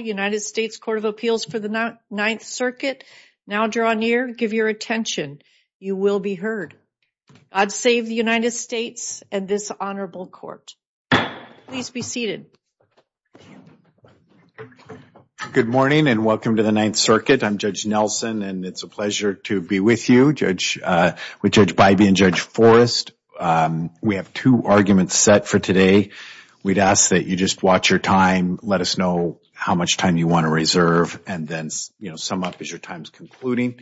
United States Court of Appeals for the Ninth Circuit. Now draw near, give your attention, you will be heard. I'd save the United States and this Honorable Court. Please be seated. Good morning and welcome to the Ninth Circuit. I'm Judge Nelson and it's a pleasure to be with you, Judge, with Judge Bybee and Judge Forrest. We have two arguments set for today. We'd ask you just watch your time, let us know how much time you want to reserve, and then, you know, sum up as your time's concluding.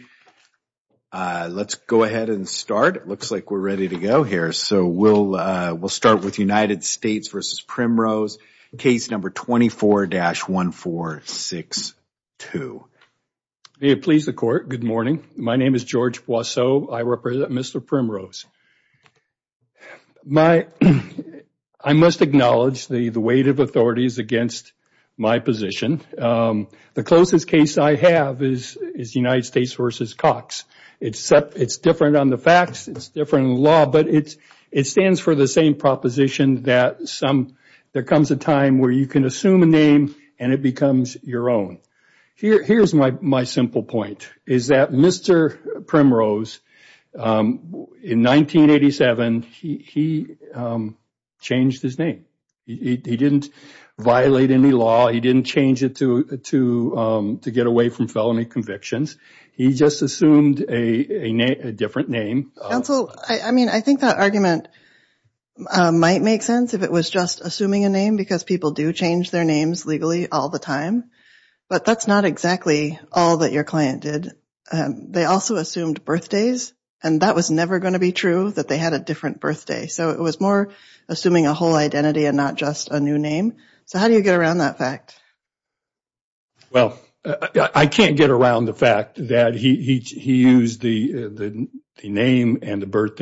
Let's go ahead and start. It looks like we're ready to go here. So we'll start with United States v. Primrose, case number 24-1462. May it please the Court, good morning. My name is George Boisseau. I represent Mr. Primrose. I must acknowledge the weight of authorities against my position. The closest case I have is United States v. Cox. It's different on the facts, it's different in law, but it stands for the same proposition that there comes a time where you can assume a name and it becomes your own. Here's my simple point, is that Mr. Primrose, in 1987, he changed his name. He didn't violate any law, he didn't change it to get away from felony convictions. He just assumed a different name. Counsel, I mean, I think that argument might make sense if it was just assuming a name, because people do change their names legally all the time, but that's not exactly all that your client did. They also assumed birthdays, and that was never going to be true, that they had a different birthday. So it was more assuming a whole identity and not just a new name. So how do you get around that fact? Well, I can't get around the fact that he used the name and the because the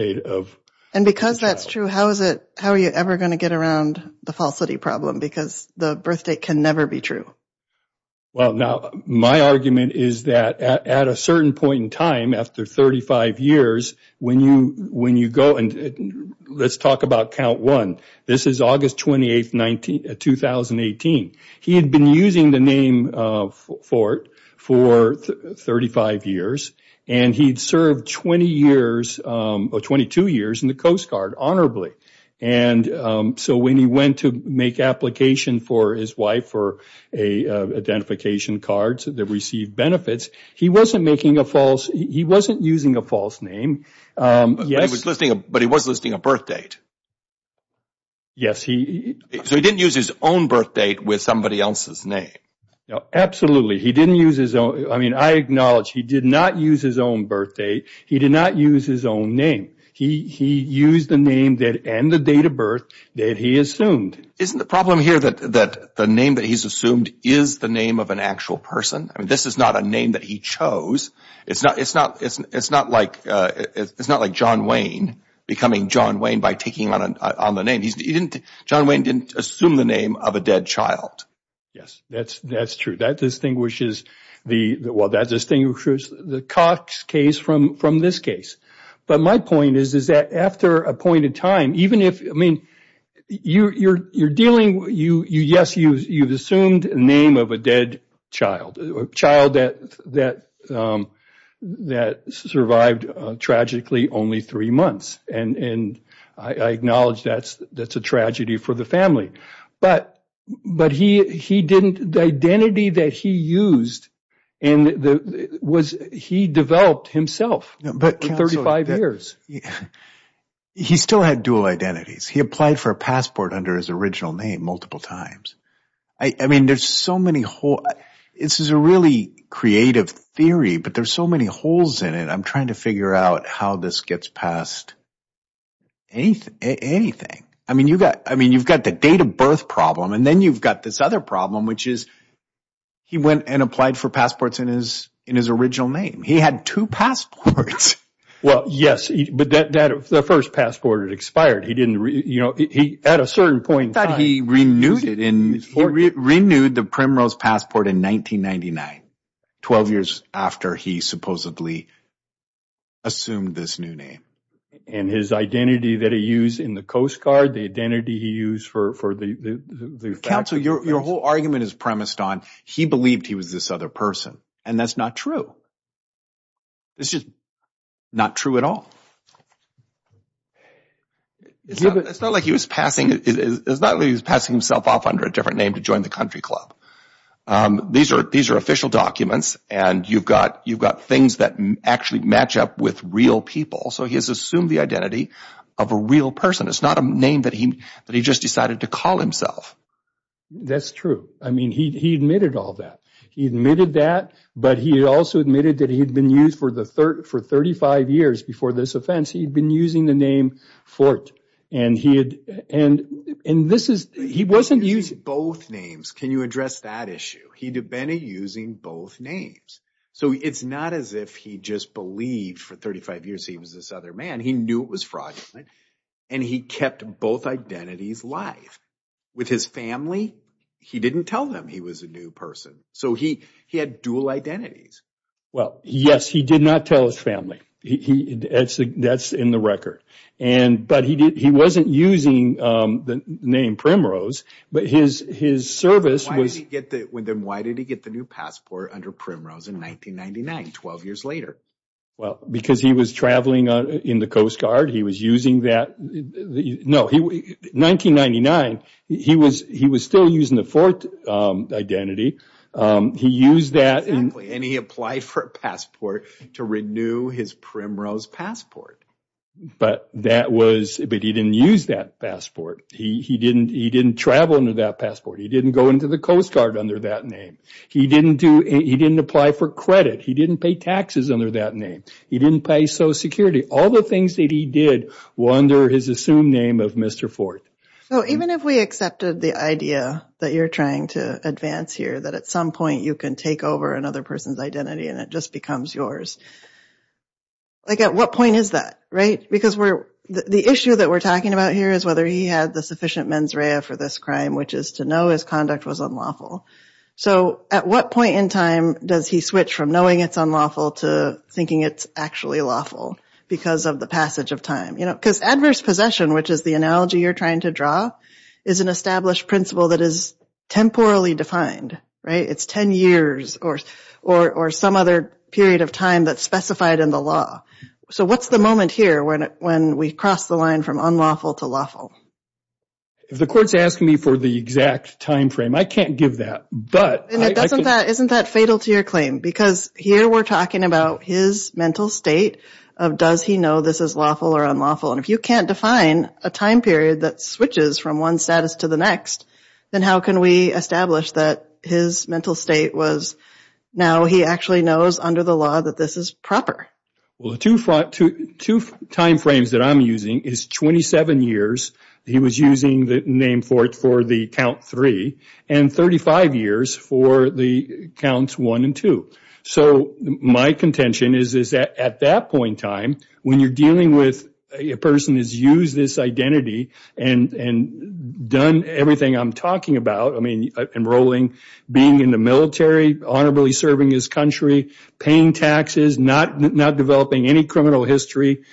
birth date can never be true. Well, now, my argument is that at a certain point in time, after 35 years, when you go, and let's talk about count one, this is August 28, 2018. He had been using the name Fort for 35 years, and he'd served 20 years, or 22 years in the Coast honorably. So when he went to make application for his wife for identification cards that received benefits, he wasn't using a false name. But he was listing a birth date? Yes. So he didn't use his own birth date with somebody else's name? Absolutely. He didn't use his own. I mean, I acknowledge he did not use his own birth date. He did not use his own name. He used the name and the date of birth that he assumed. Isn't the problem here that the name that he's assumed is the name of an actual person? I mean, this is not a name that he chose. It's not like John Wayne becoming John Wayne by taking on the name. John Wayne didn't assume the name of a dead child. Yes, that's true. That distinguishes the Cox case from this case. But my point is that after a point in time, even if, I mean, you're dealing, yes, you've assumed the name of a dead child, a child that survived tragically only three months. And I acknowledge that's a tragedy for the family. But the identity that he used, he developed himself for 35 years. He still had dual identities. He applied for a passport under his original name multiple times. I mean, there's so many holes. This is a really creative theory, but there's so many holes in it. I'm trying to figure out how this gets past anything. I mean, you've got the date of birth problem, and then you've got this other problem, which is he went and applied for passports in his original name. He had two passports. Well, yes, but the first passport had expired. He didn't, you know, at a certain point in time. He renewed it. He renewed the Primrose passport in 1999, 12 years after he supposedly assumed this new name. And his identity that he used in the Coast Guard, the identity he used for the fact that... Counsel, your whole argument is premised on he believed he was this other person, and that's not true. It's just not true at all. It's not like he was passing himself off under a different name to join the country club. These are official documents, and you've got things that actually match up with real people. So he has assumed the identity of a real person. It's not a name that he just decided to call himself. That's true. I mean, he admitted all that. He admitted that, but he also admitted that he'd been used for 35 years before this offense. He'd been using the name Fort, and he wasn't using... Both names. Can you address that issue? He'd been using both names. So it's not as if he just believed for 35 years he was this other man. He knew it was fraudulent, and he kept both identities live. With his family, he didn't tell them he was a new person. So he had dual identities. Well, yes, he did not tell his family. That's in the record. But he wasn't using the name Primrose, but his service was... Then why did he get the new passport under Primrose in 1999, 12 years later? Well, because he was traveling in the Coast Guard. He was using that... No, 1999, he was still using the Fort identity. Exactly, and he applied for a passport to renew his Primrose passport. But he didn't use that passport. He didn't travel under that passport. He didn't go into the Coast Guard under that name. He didn't apply for credit. He didn't pay taxes under that name. He didn't pay Social Security. All the things that he did were under his assumed name of Mr. Fort. So even if we accepted the idea that you're trying to advance here, that at some point you can take over another person's identity and it just becomes yours, like at what point is that, right? Because the issue that we're talking about here is whether he had the sufficient mens rea for this crime, which is to know his conduct was unlawful. So at what point in time does he switch from knowing it's unlawful to thinking it's actually lawful because of the passage of time? Because adverse possession, which is the analogy you're trying to draw, is an established principle that is temporally defined, right? It's 10 years or some other period of time that's specified in the law. So what's the moment here when we cross the line? And isn't that fatal to your claim? Because here we're talking about his mental state of does he know this is lawful or unlawful? And if you can't define a time period that switches from one status to the next, then how can we establish that his mental state was now he actually knows under the law that this is proper? Well, the two time frames that I'm using is 27 years he was named for the count three and 35 years for the counts one and two. So my contention is that at that point in time, when you're dealing with a person who's used this identity and done everything I'm talking about, I mean, enrolling, being in the military, honorably serving his country, paying taxes, not developing any criminal history,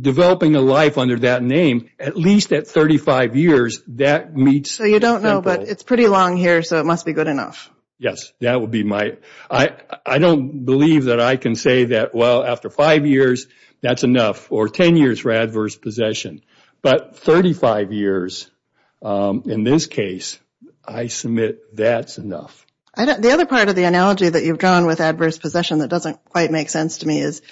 developing a life under that name, at least at 35 years, that meets... So you don't know, but it's pretty long here, so it must be good enough. Yes, that would be my... I don't believe that I can say that, well, after five years, that's enough, or 10 years for adverse possession. But 35 years in this case, I submit that's enough. The other part of the analogy that you've drawn with adverse possession that doesn't quite make sense to me is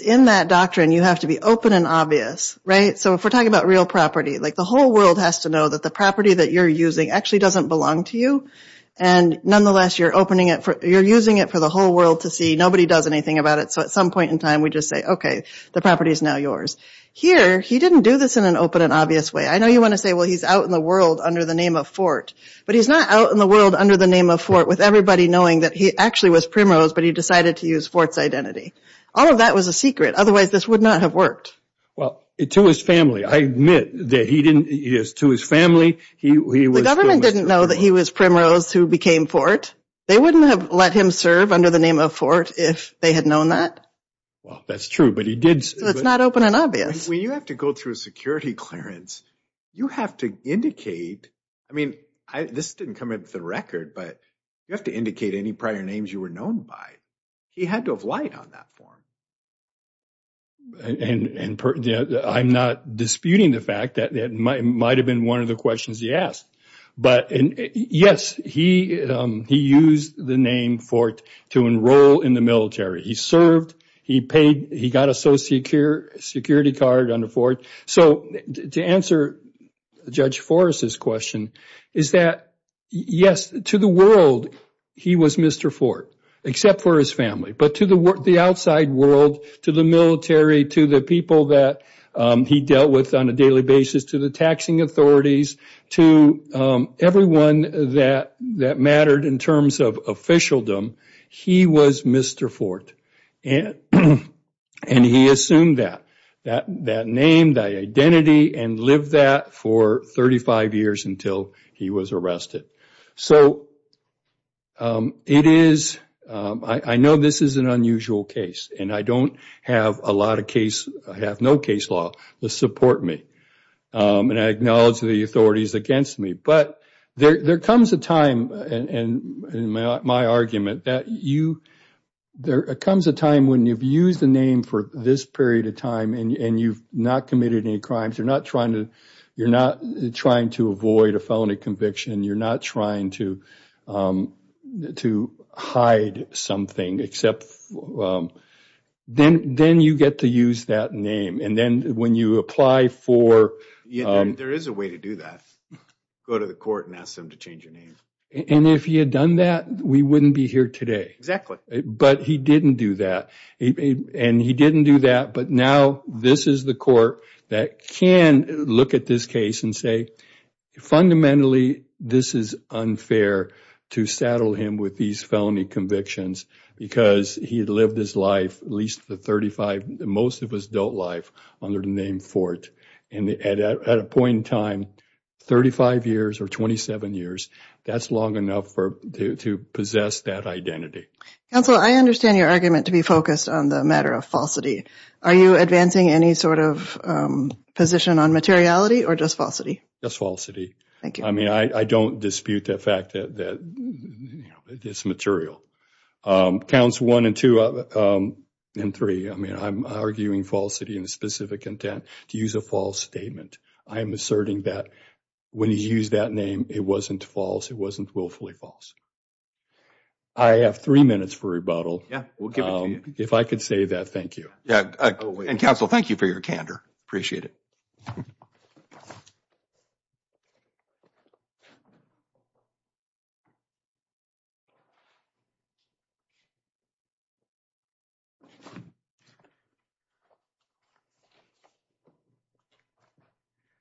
in that doctrine, you have to be open and obvious, right? So if we're talking about real property, like the whole world has to know that the property that you're using actually doesn't belong to you. And nonetheless, you're using it for the whole world to see, nobody does anything about it. So at some point in time, we just say, okay, the property is now yours. Here, he didn't do this in an open and obvious way. I know you want to say, well, he's out in the world under the name of Fort, with everybody knowing that he actually was Primrose, but he decided to use Fort's identity. All of that was a secret, otherwise this would not have worked. Well, to his family, I admit that he didn't... To his family, he was... The government didn't know that he was Primrose who became Fort. They wouldn't have let him serve under the name of Fort if they had known that. Well, that's true, but he did... So it's not open and obvious. When you have to go through a security clearance, you have to indicate... I mean, this didn't come into the record, but you have to indicate any prior names you were known by. He had to have lied on that form. I'm not disputing the fact that that might have been one of the questions he asked, but yes, he used the name Fort to enroll in the military. He served, he paid, he got a security card under Fort. So to answer Judge Forrest's question, is that yes, to the world, he was Mr. Fort, except for his family. But to the outside world, to the military, to the people that he dealt with on a daily basis, to the taxing authorities, to everyone that mattered in terms of officialdom, he was Mr. Fort, and he assumed that name, that identity, and lived that for 35 years until he was arrested. So it is... I know this is an unusual case, and I don't have a lot of case... I have no case law to support me, and I acknowledge the authorities against me, but there comes a time, in my argument, that you... There comes a time when you've used the name for this period of time, and you've not committed any crimes. You're not trying to avoid a felony conviction. You're not trying to hide something, except then you get to use that name. And then you go to court and ask them to change your name. And if he had done that, we wouldn't be here today. Exactly. But he didn't do that. And he didn't do that, but now this is the court that can look at this case and say, fundamentally, this is unfair to saddle him with these felony convictions, because he had lived his life, at least the 35... most of his adult life, under the name Fort. And at a point in time, 35 years or 27 years, that's long enough to possess that identity. Counsel, I understand your argument to be focused on the matter of falsity. Are you advancing any sort of position on materiality or just falsity? Just falsity. Thank you. I mean, I don't dispute the fact that it's material. Counsel, one and two and three, I mean, I'm arguing falsity in a specific intent to use a false statement. I am asserting that when he used that name, it wasn't false. It wasn't willfully false. I have three minutes for rebuttal. Yeah, we'll give it to you. If I could say that, thank you. Yeah. And, counsel, thank you for your candor. Appreciate it.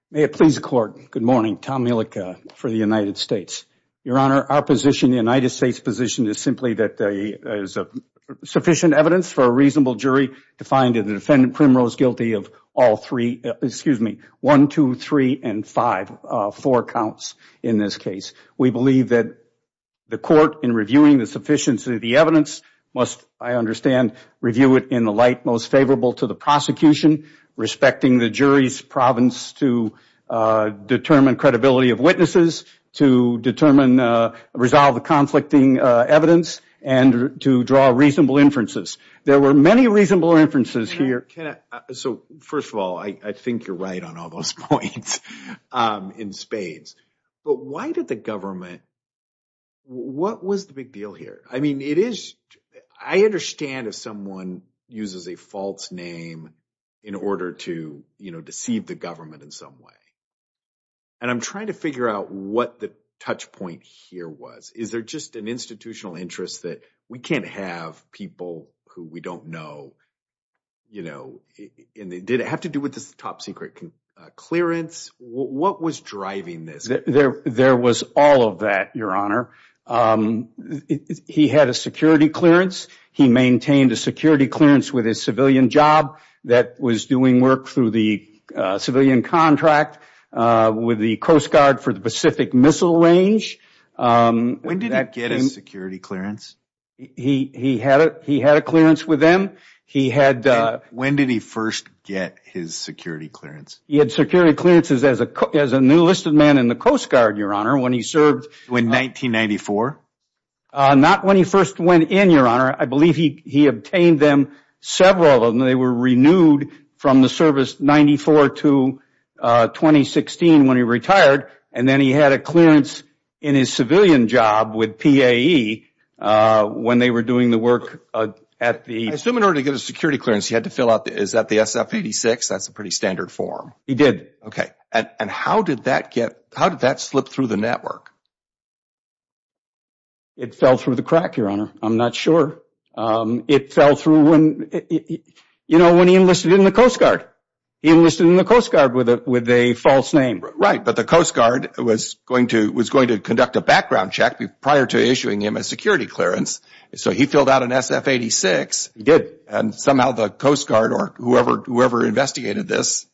May it please the court. Good morning. Tom Mielek for the United States. Your Honor, our position, the United States position, is simply that there is sufficient evidence for reasonable jury to find the defendant Primrose guilty of all three, excuse me, one, two, three, and five, four counts in this case. We believe that the court, in reviewing the sufficiency of the evidence, must, I understand, review it in the light most favorable to the prosecution, respecting the jury's province to determine credibility of witnesses, to determine, resolve the conflicting evidence, and to draw reasonable inferences. There were many reasonable inferences here. So, first of all, I think you're right on all those points in spades. But why did the government, what was the big deal here? I mean, it is, I understand if someone uses a false name in order to, you know, deceive the government in some way. And I'm trying to figure out what the touch point here was. Is there just an institutional interest that we can't have people who we don't know, you know, did it have to do with this top secret clearance? What was driving this? There was all of that, Your Honor. He had a security clearance. He maintained a security clearance with his civilian job that was doing work through the civilian contract with the Coast Guard for the Pacific Missile Range. When did he get a security clearance? He had a clearance with them. He had... When did he first get his security clearance? He had security clearances as a new enlisted man in the Coast Guard, Your Honor, when he served... In 1994? Not when he first went in, Your Honor. I believe he obtained them, several of them, they were renewed from the service 1994 to 2016 when he retired. And then he had a clearance in his civilian job with PAE when they were doing the work at the... I assume in order to get a security clearance, he had to fill out... Is that the SF-86? That's a pretty standard form. He did. Okay. And how did that get... How did that slip through the network? It fell through the crack, Your Honor. I'm not sure. It fell through when he enlisted in the Coast Guard. He enlisted in the Coast Guard with a false name. Right. But the Coast Guard was going to conduct a background check prior to issuing him a security clearance. So he filled out an SF-86. He did. And somehow the Coast Guard or whoever investigated this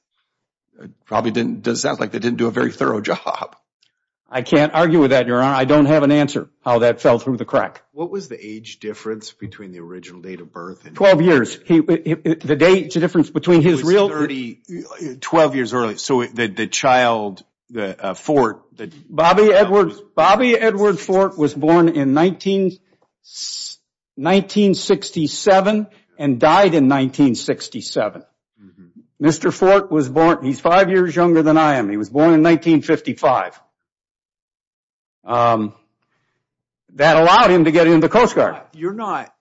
probably didn't... It sounds like they didn't do a very thorough job. I can't argue with that. I don't have an answer how that fell through the crack. What was the age difference between the original date of birth and... 12 years. The age difference between his real... It was 12 years early. So the child, Fort... Bobby Edward Fort was born in 1967 and died in 1967. Mr. Fort was born... He's five years younger than I am. He was born in 1955. Um, that allowed him to get into the Coast Guard. You're not...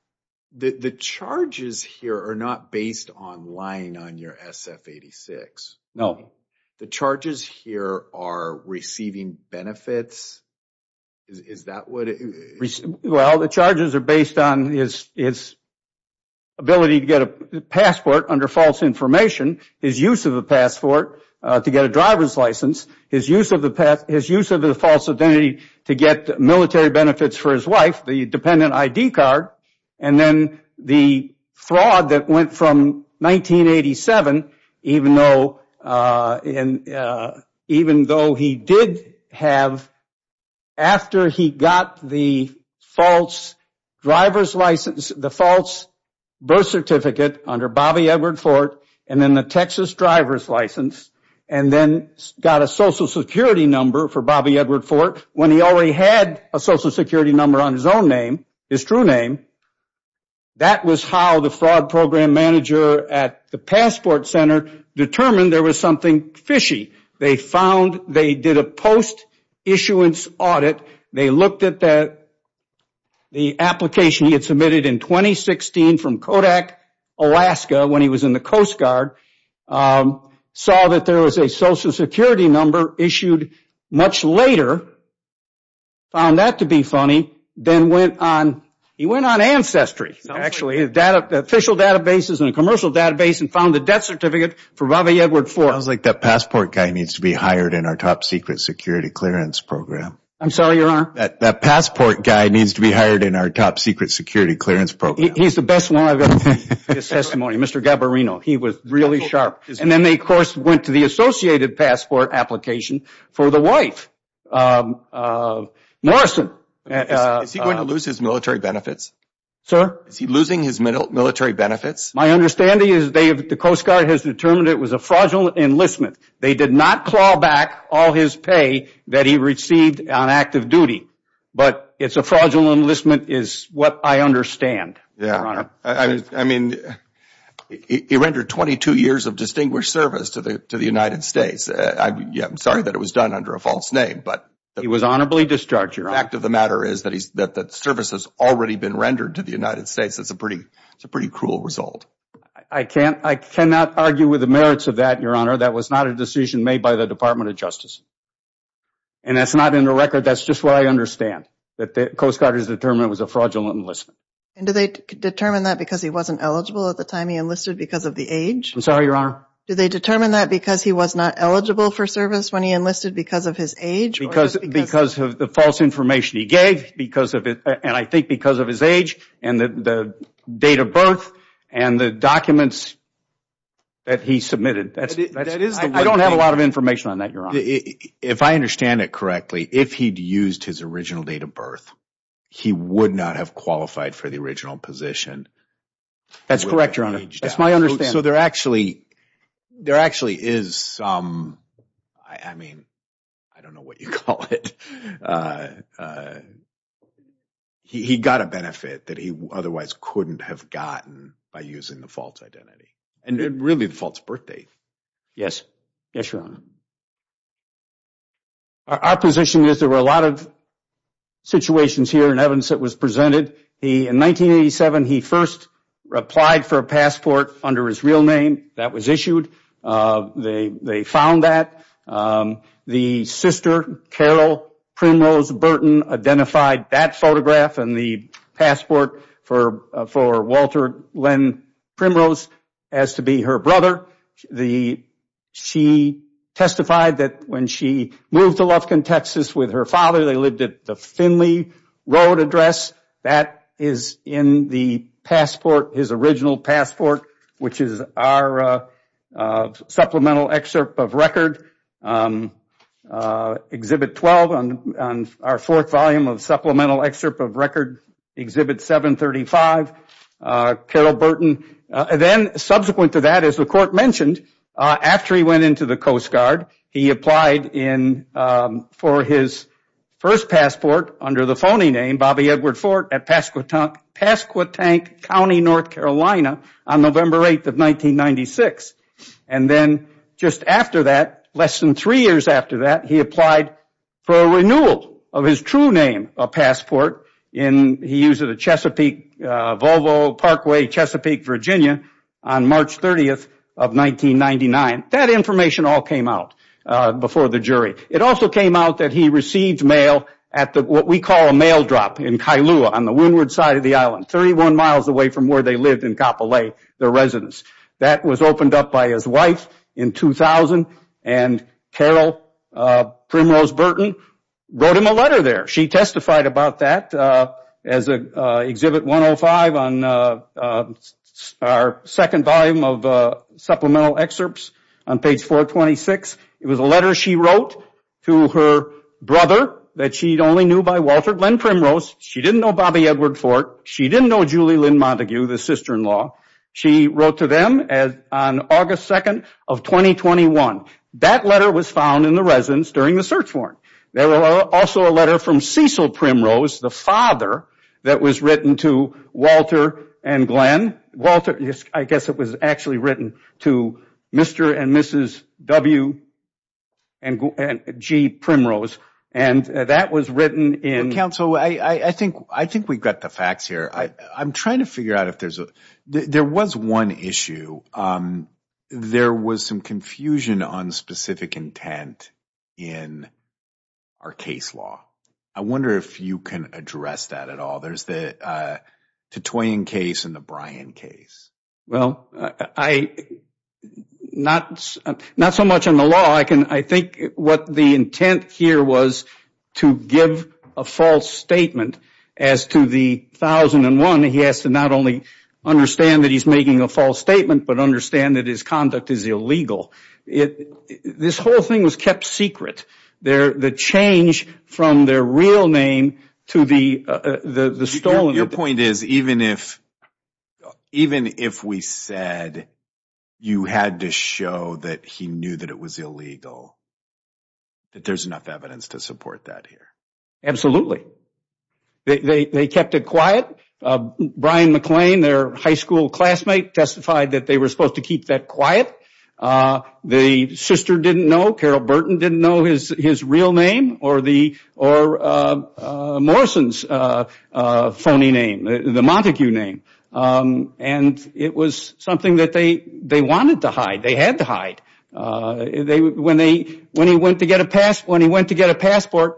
The charges here are not based on lying on your SF-86. No. The charges here are receiving benefits. Is that what it... Well, the charges are based on his ability to get a passport under false information, his use of a passport to get a driver's license, his use of the... His use of the false identity to get military benefits for his wife, the dependent ID card, and then the fraud that went from 1987, even though... Even though he did have... After he got the false driver's license, the false birth certificate under Bobby Edward Fort, and then the Texas driver's license, and then got a social security number for Bobby Edward Fort, when he already had a social security number on his own name, his true name, that was how the fraud program manager at the Passport Center determined there was something fishy. They found... They did a post-issuance audit. They looked at the application he had there was a social security number issued much later, found that to be funny, then went on... He went on Ancestry, actually, official databases and a commercial database, and found the death certificate for Bobby Edward Fort. I was like, that passport guy needs to be hired in our top secret security clearance program. I'm sorry, Your Honor? That passport guy needs to be hired in our top secret security clearance program. He's the best one I've ever seen. His testimony, Mr. Gabarino, he was really sharp. And then they, of course, went to the associated passport application for the wife, Morrison. Is he going to lose his military benefits? Sir? Is he losing his military benefits? My understanding is the Coast Guard has determined it was a fraudulent enlistment. They did not claw back all his pay that he received on active duty, but it's a fraudulent enlistment is what I understand, Your Honor. I mean, he rendered 22 years of distinguished service to the United States. Yeah, I'm sorry that it was done under a false name, but... He was honorably discharged, Your Honor. The fact of the matter is that the service has already been rendered to the United States. That's a pretty cruel result. I cannot argue with the merits of that, Your Honor. That was not a decision made by the Department of Justice. And that's not in the record. That's just what I understand, that the Coast Guard has determined it was a fraudulent enlistment. And do they determine that because he wasn't eligible at the time he enlisted because of the age? I'm sorry, Your Honor. Do they determine that because he was not eligible for service when he enlisted because of his age? Because of the false information he gave, and I think because of his age and the date of birth and the documents that he submitted. I don't have a lot of information on that, Your Honor. If I understand it correctly, if he'd used his original date of birth, he would not have qualified for the original position. That's correct, Your Honor. That's my understanding. So there actually is some, I mean, I don't know what you call it. He got a benefit that he otherwise couldn't have gotten by using the false identity. And really, the false birth date. Yes. Yes, Your Honor. Our position is there were a lot of situations here in evidence that was presented. In 1987, he first replied for a passport under his real name. That was issued. They found that. The sister, Carol Primrose Burton, identified that photograph and the passport for Walter Lynn Primrose as to be her brother. The, she testified that when she moved to Lufkin, Texas with her father, they lived at the Finley Road address. That is in the passport, his original passport, which is our supplemental excerpt of record. Exhibit 12 on our fourth volume of supplemental excerpt of record. Exhibit 735. Carol Burton. Then subsequent to that, as the court mentioned, after he went into the Coast Guard, he applied for his first passport under the phony name Bobby Edward Fort at Pasquotank County, North Carolina on November 8th of 1996. And then just after that, less than three years after that, he applied for a renewal of his true name passport. He used it at Chesapeake, Volvo Parkway, Chesapeake, Virginia on March 30th of 1999. That information all came out before the jury. It also came out that he received mail at what we call a mail drop in Kailua on the windward side of the island, 31 miles away from where they lived in Kapolei, their residence. That was opened up by his wife in 2000, and Carol Primrose Burton wrote him a letter there. She testified about that as Exhibit 105 on our second volume of supplemental excerpts on page 426. It was a letter she wrote to her brother that she only knew by Walter Lynn Primrose. She didn't know Bobby Edward Fort. She didn't know Julie Lynn Montague, the sister-in-law. She wrote to them on August 2nd of 2021. That letter was found in the residence during the search warrant. There was also a letter from Cecil Primrose, the father, that was written to Walter and Glenn. I guess it was actually written to Mr. and Mrs. W. and G. Primrose. That was written in… Counsel, I think we got the facts here. There was one issue. There was some confusion on specific intent in our case law. I wonder if you can address that at all. There's the Titoian case and the Bryan case. Well, not so much on the law. I think what the intent here was to give a false statement as to the 1001. He has to not only understand that he's making a false statement, but understand that his conduct is illegal. This whole thing was kept secret. The change from their real name to the stolen… Your point is, even if we said you had to show that he knew that it was illegal, that there's enough evidence to support that here? Absolutely. They kept it quiet. Bryan McClain, their high school classmate, testified that they were supposed to keep that quiet. The sister didn't know. Carol Burton didn't know his real name or Morrison's phony name, the Montague name. It was something that they wanted to hide. They had to hide. When he went to get a passport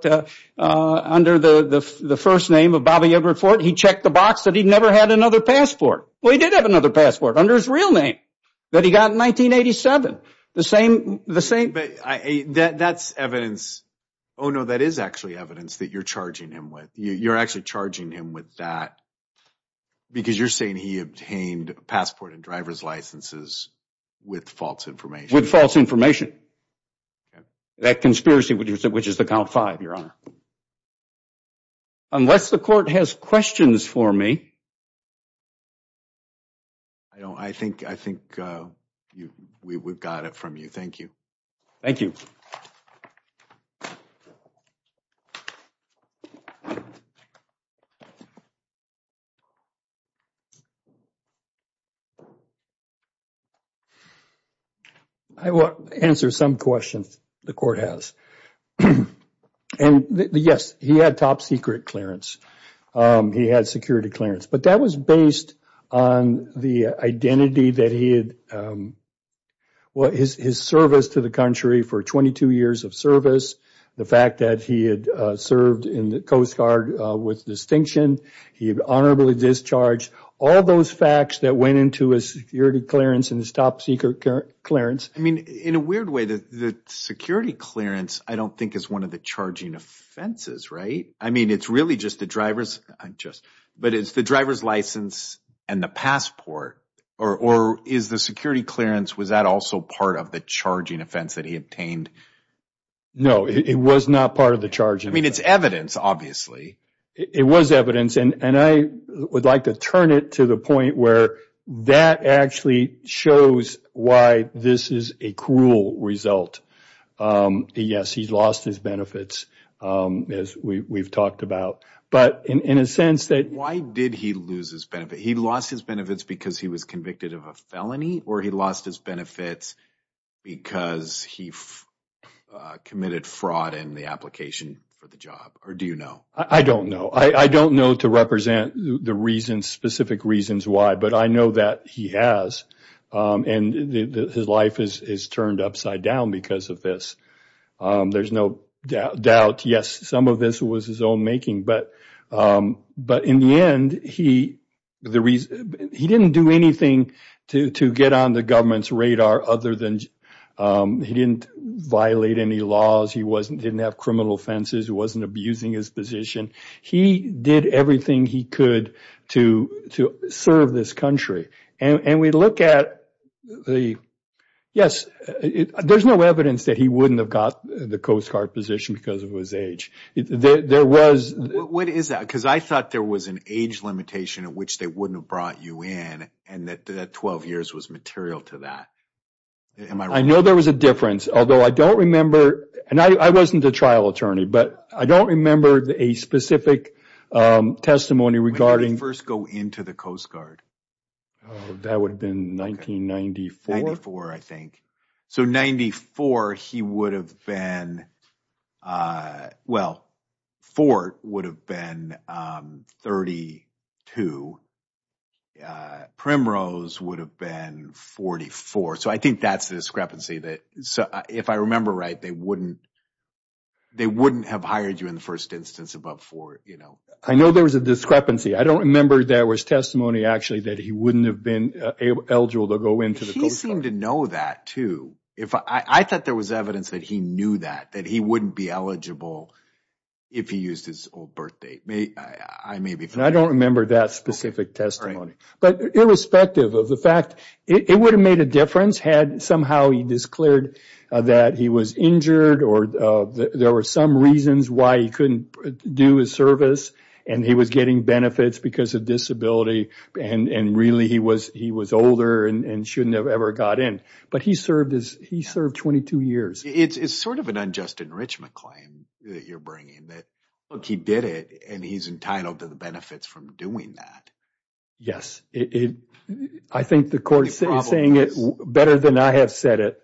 under the first name of Bobby Everett Ford, he checked the box that he never had another passport. Well, he did have another passport under his real name that he got in 1987. That's evidence. Oh, no, that is actually evidence that you're charging him with. You're actually charging him with that because you're saying he obtained a passport and driver's licenses with false information. With false information. That conspiracy, which is the count five, Your Honor. Unless the court has questions for me. I don't. I think we've got it from you. Thank you. Thank you. I will answer some questions the court has. And yes, he had top secret clearance. He had security clearance, but that was based on the identity that he had. What is his service to the country for 22 years of service? The fact that he had served in the Coast Guard with distinction, he honorably discharged all those facts that went into his security clearance and his top secret clearance. In a weird way, the security clearance, I don't think is one of the charging offenses, right? I mean, it's really just the driver's license and the passport or is the security clearance, was that also part of the charging offense that he obtained? No, it was not part of the charge. I mean, it's evidence, obviously. It was evidence, and I would like to turn it to the point where that actually shows why this is a cruel result. Yes, he's lost his benefits as we've talked about, but in a sense that- Why did he lose his benefits? He lost his benefits because he was convicted of a felony or he lost his benefits because he committed fraud in the application for the job? Or do you know? I don't know. I don't know to represent the specific reasons why, but I know that he has. And his life is turned upside down because of this. There's no doubt. Yes, some of this was his own making, but in the end, he didn't do anything to get on the government's radar other than he didn't violate any laws. He didn't have criminal offenses. He wasn't abusing his position. He did everything he could to serve this country. And we look at the, yes, there's no evidence that he wouldn't have got the Coast Guard position because of his age. There was- What is that? Because I thought there was an age limitation at which they wouldn't have brought you in and that 12 years was material to that. I know there was a difference, although I don't remember, and I wasn't a trial attorney, but I don't remember a specific testimony regarding- When did he first go into the Coast Guard? That would have been 1994. 1994, I think. So, 94, he would have been- Well, Fort would have been 32. Primrose would have been 44. So, I think that's the discrepancy. If I remember right, they wouldn't have hired you in the first instance above Fort. I know there was a discrepancy. I don't remember there was testimony, actually, that he wouldn't have been eligible to go into the Coast Guard. He seemed to know that, too. I thought there was evidence that he knew that, that he wouldn't be eligible if he used his old birth date. I don't remember that specific testimony. But irrespective of the fact, it would have made a difference had somehow he declared that he was injured or there were some reasons why he couldn't do his service and he was getting benefits because of disability and really he was older and shouldn't have ever got in. But he served 22 years. It's sort of an unjust enrichment claim that you're bringing that, look, he did it and he's entitled to the benefits from doing that. Yes, I think the court is saying it better than I have said it.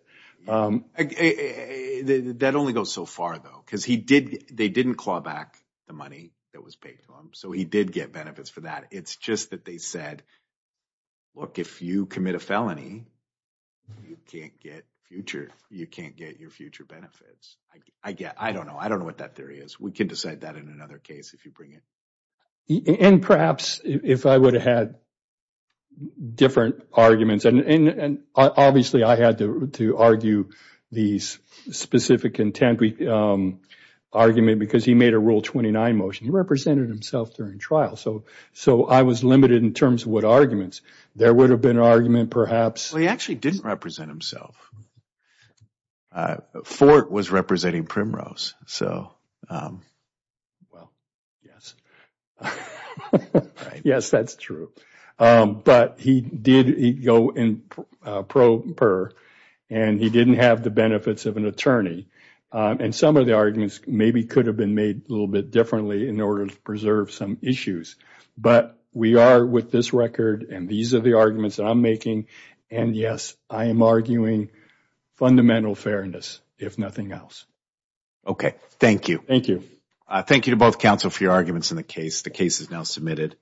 That only goes so far, though, because they didn't claw back the money that was paid to him. He did get benefits for that. It's just that they said, look, if you commit a felony, you can't get your future benefits. I don't know. I don't know what that theory is. We can decide that in another case if you bring it. And perhaps if I would have had different arguments, and obviously I had to argue these specific intent argument because he made a Rule 29 motion. He represented himself during trial. So I was limited in terms of what arguments. There would have been an argument perhaps. Well, he actually didn't represent himself. Fort was representing Primrose. Well, yes. Yes, that's true. But he did go in pro per and he didn't have the benefits of an attorney. And some of the arguments maybe could have been made a little bit differently in order to preserve some issues. But we are with this record. And these are the arguments I'm making. And yes, I am arguing fundamental fairness, if nothing else. OK, thank you. Thank you. I thank you to both counsel for your arguments in the case. The case is now submitted.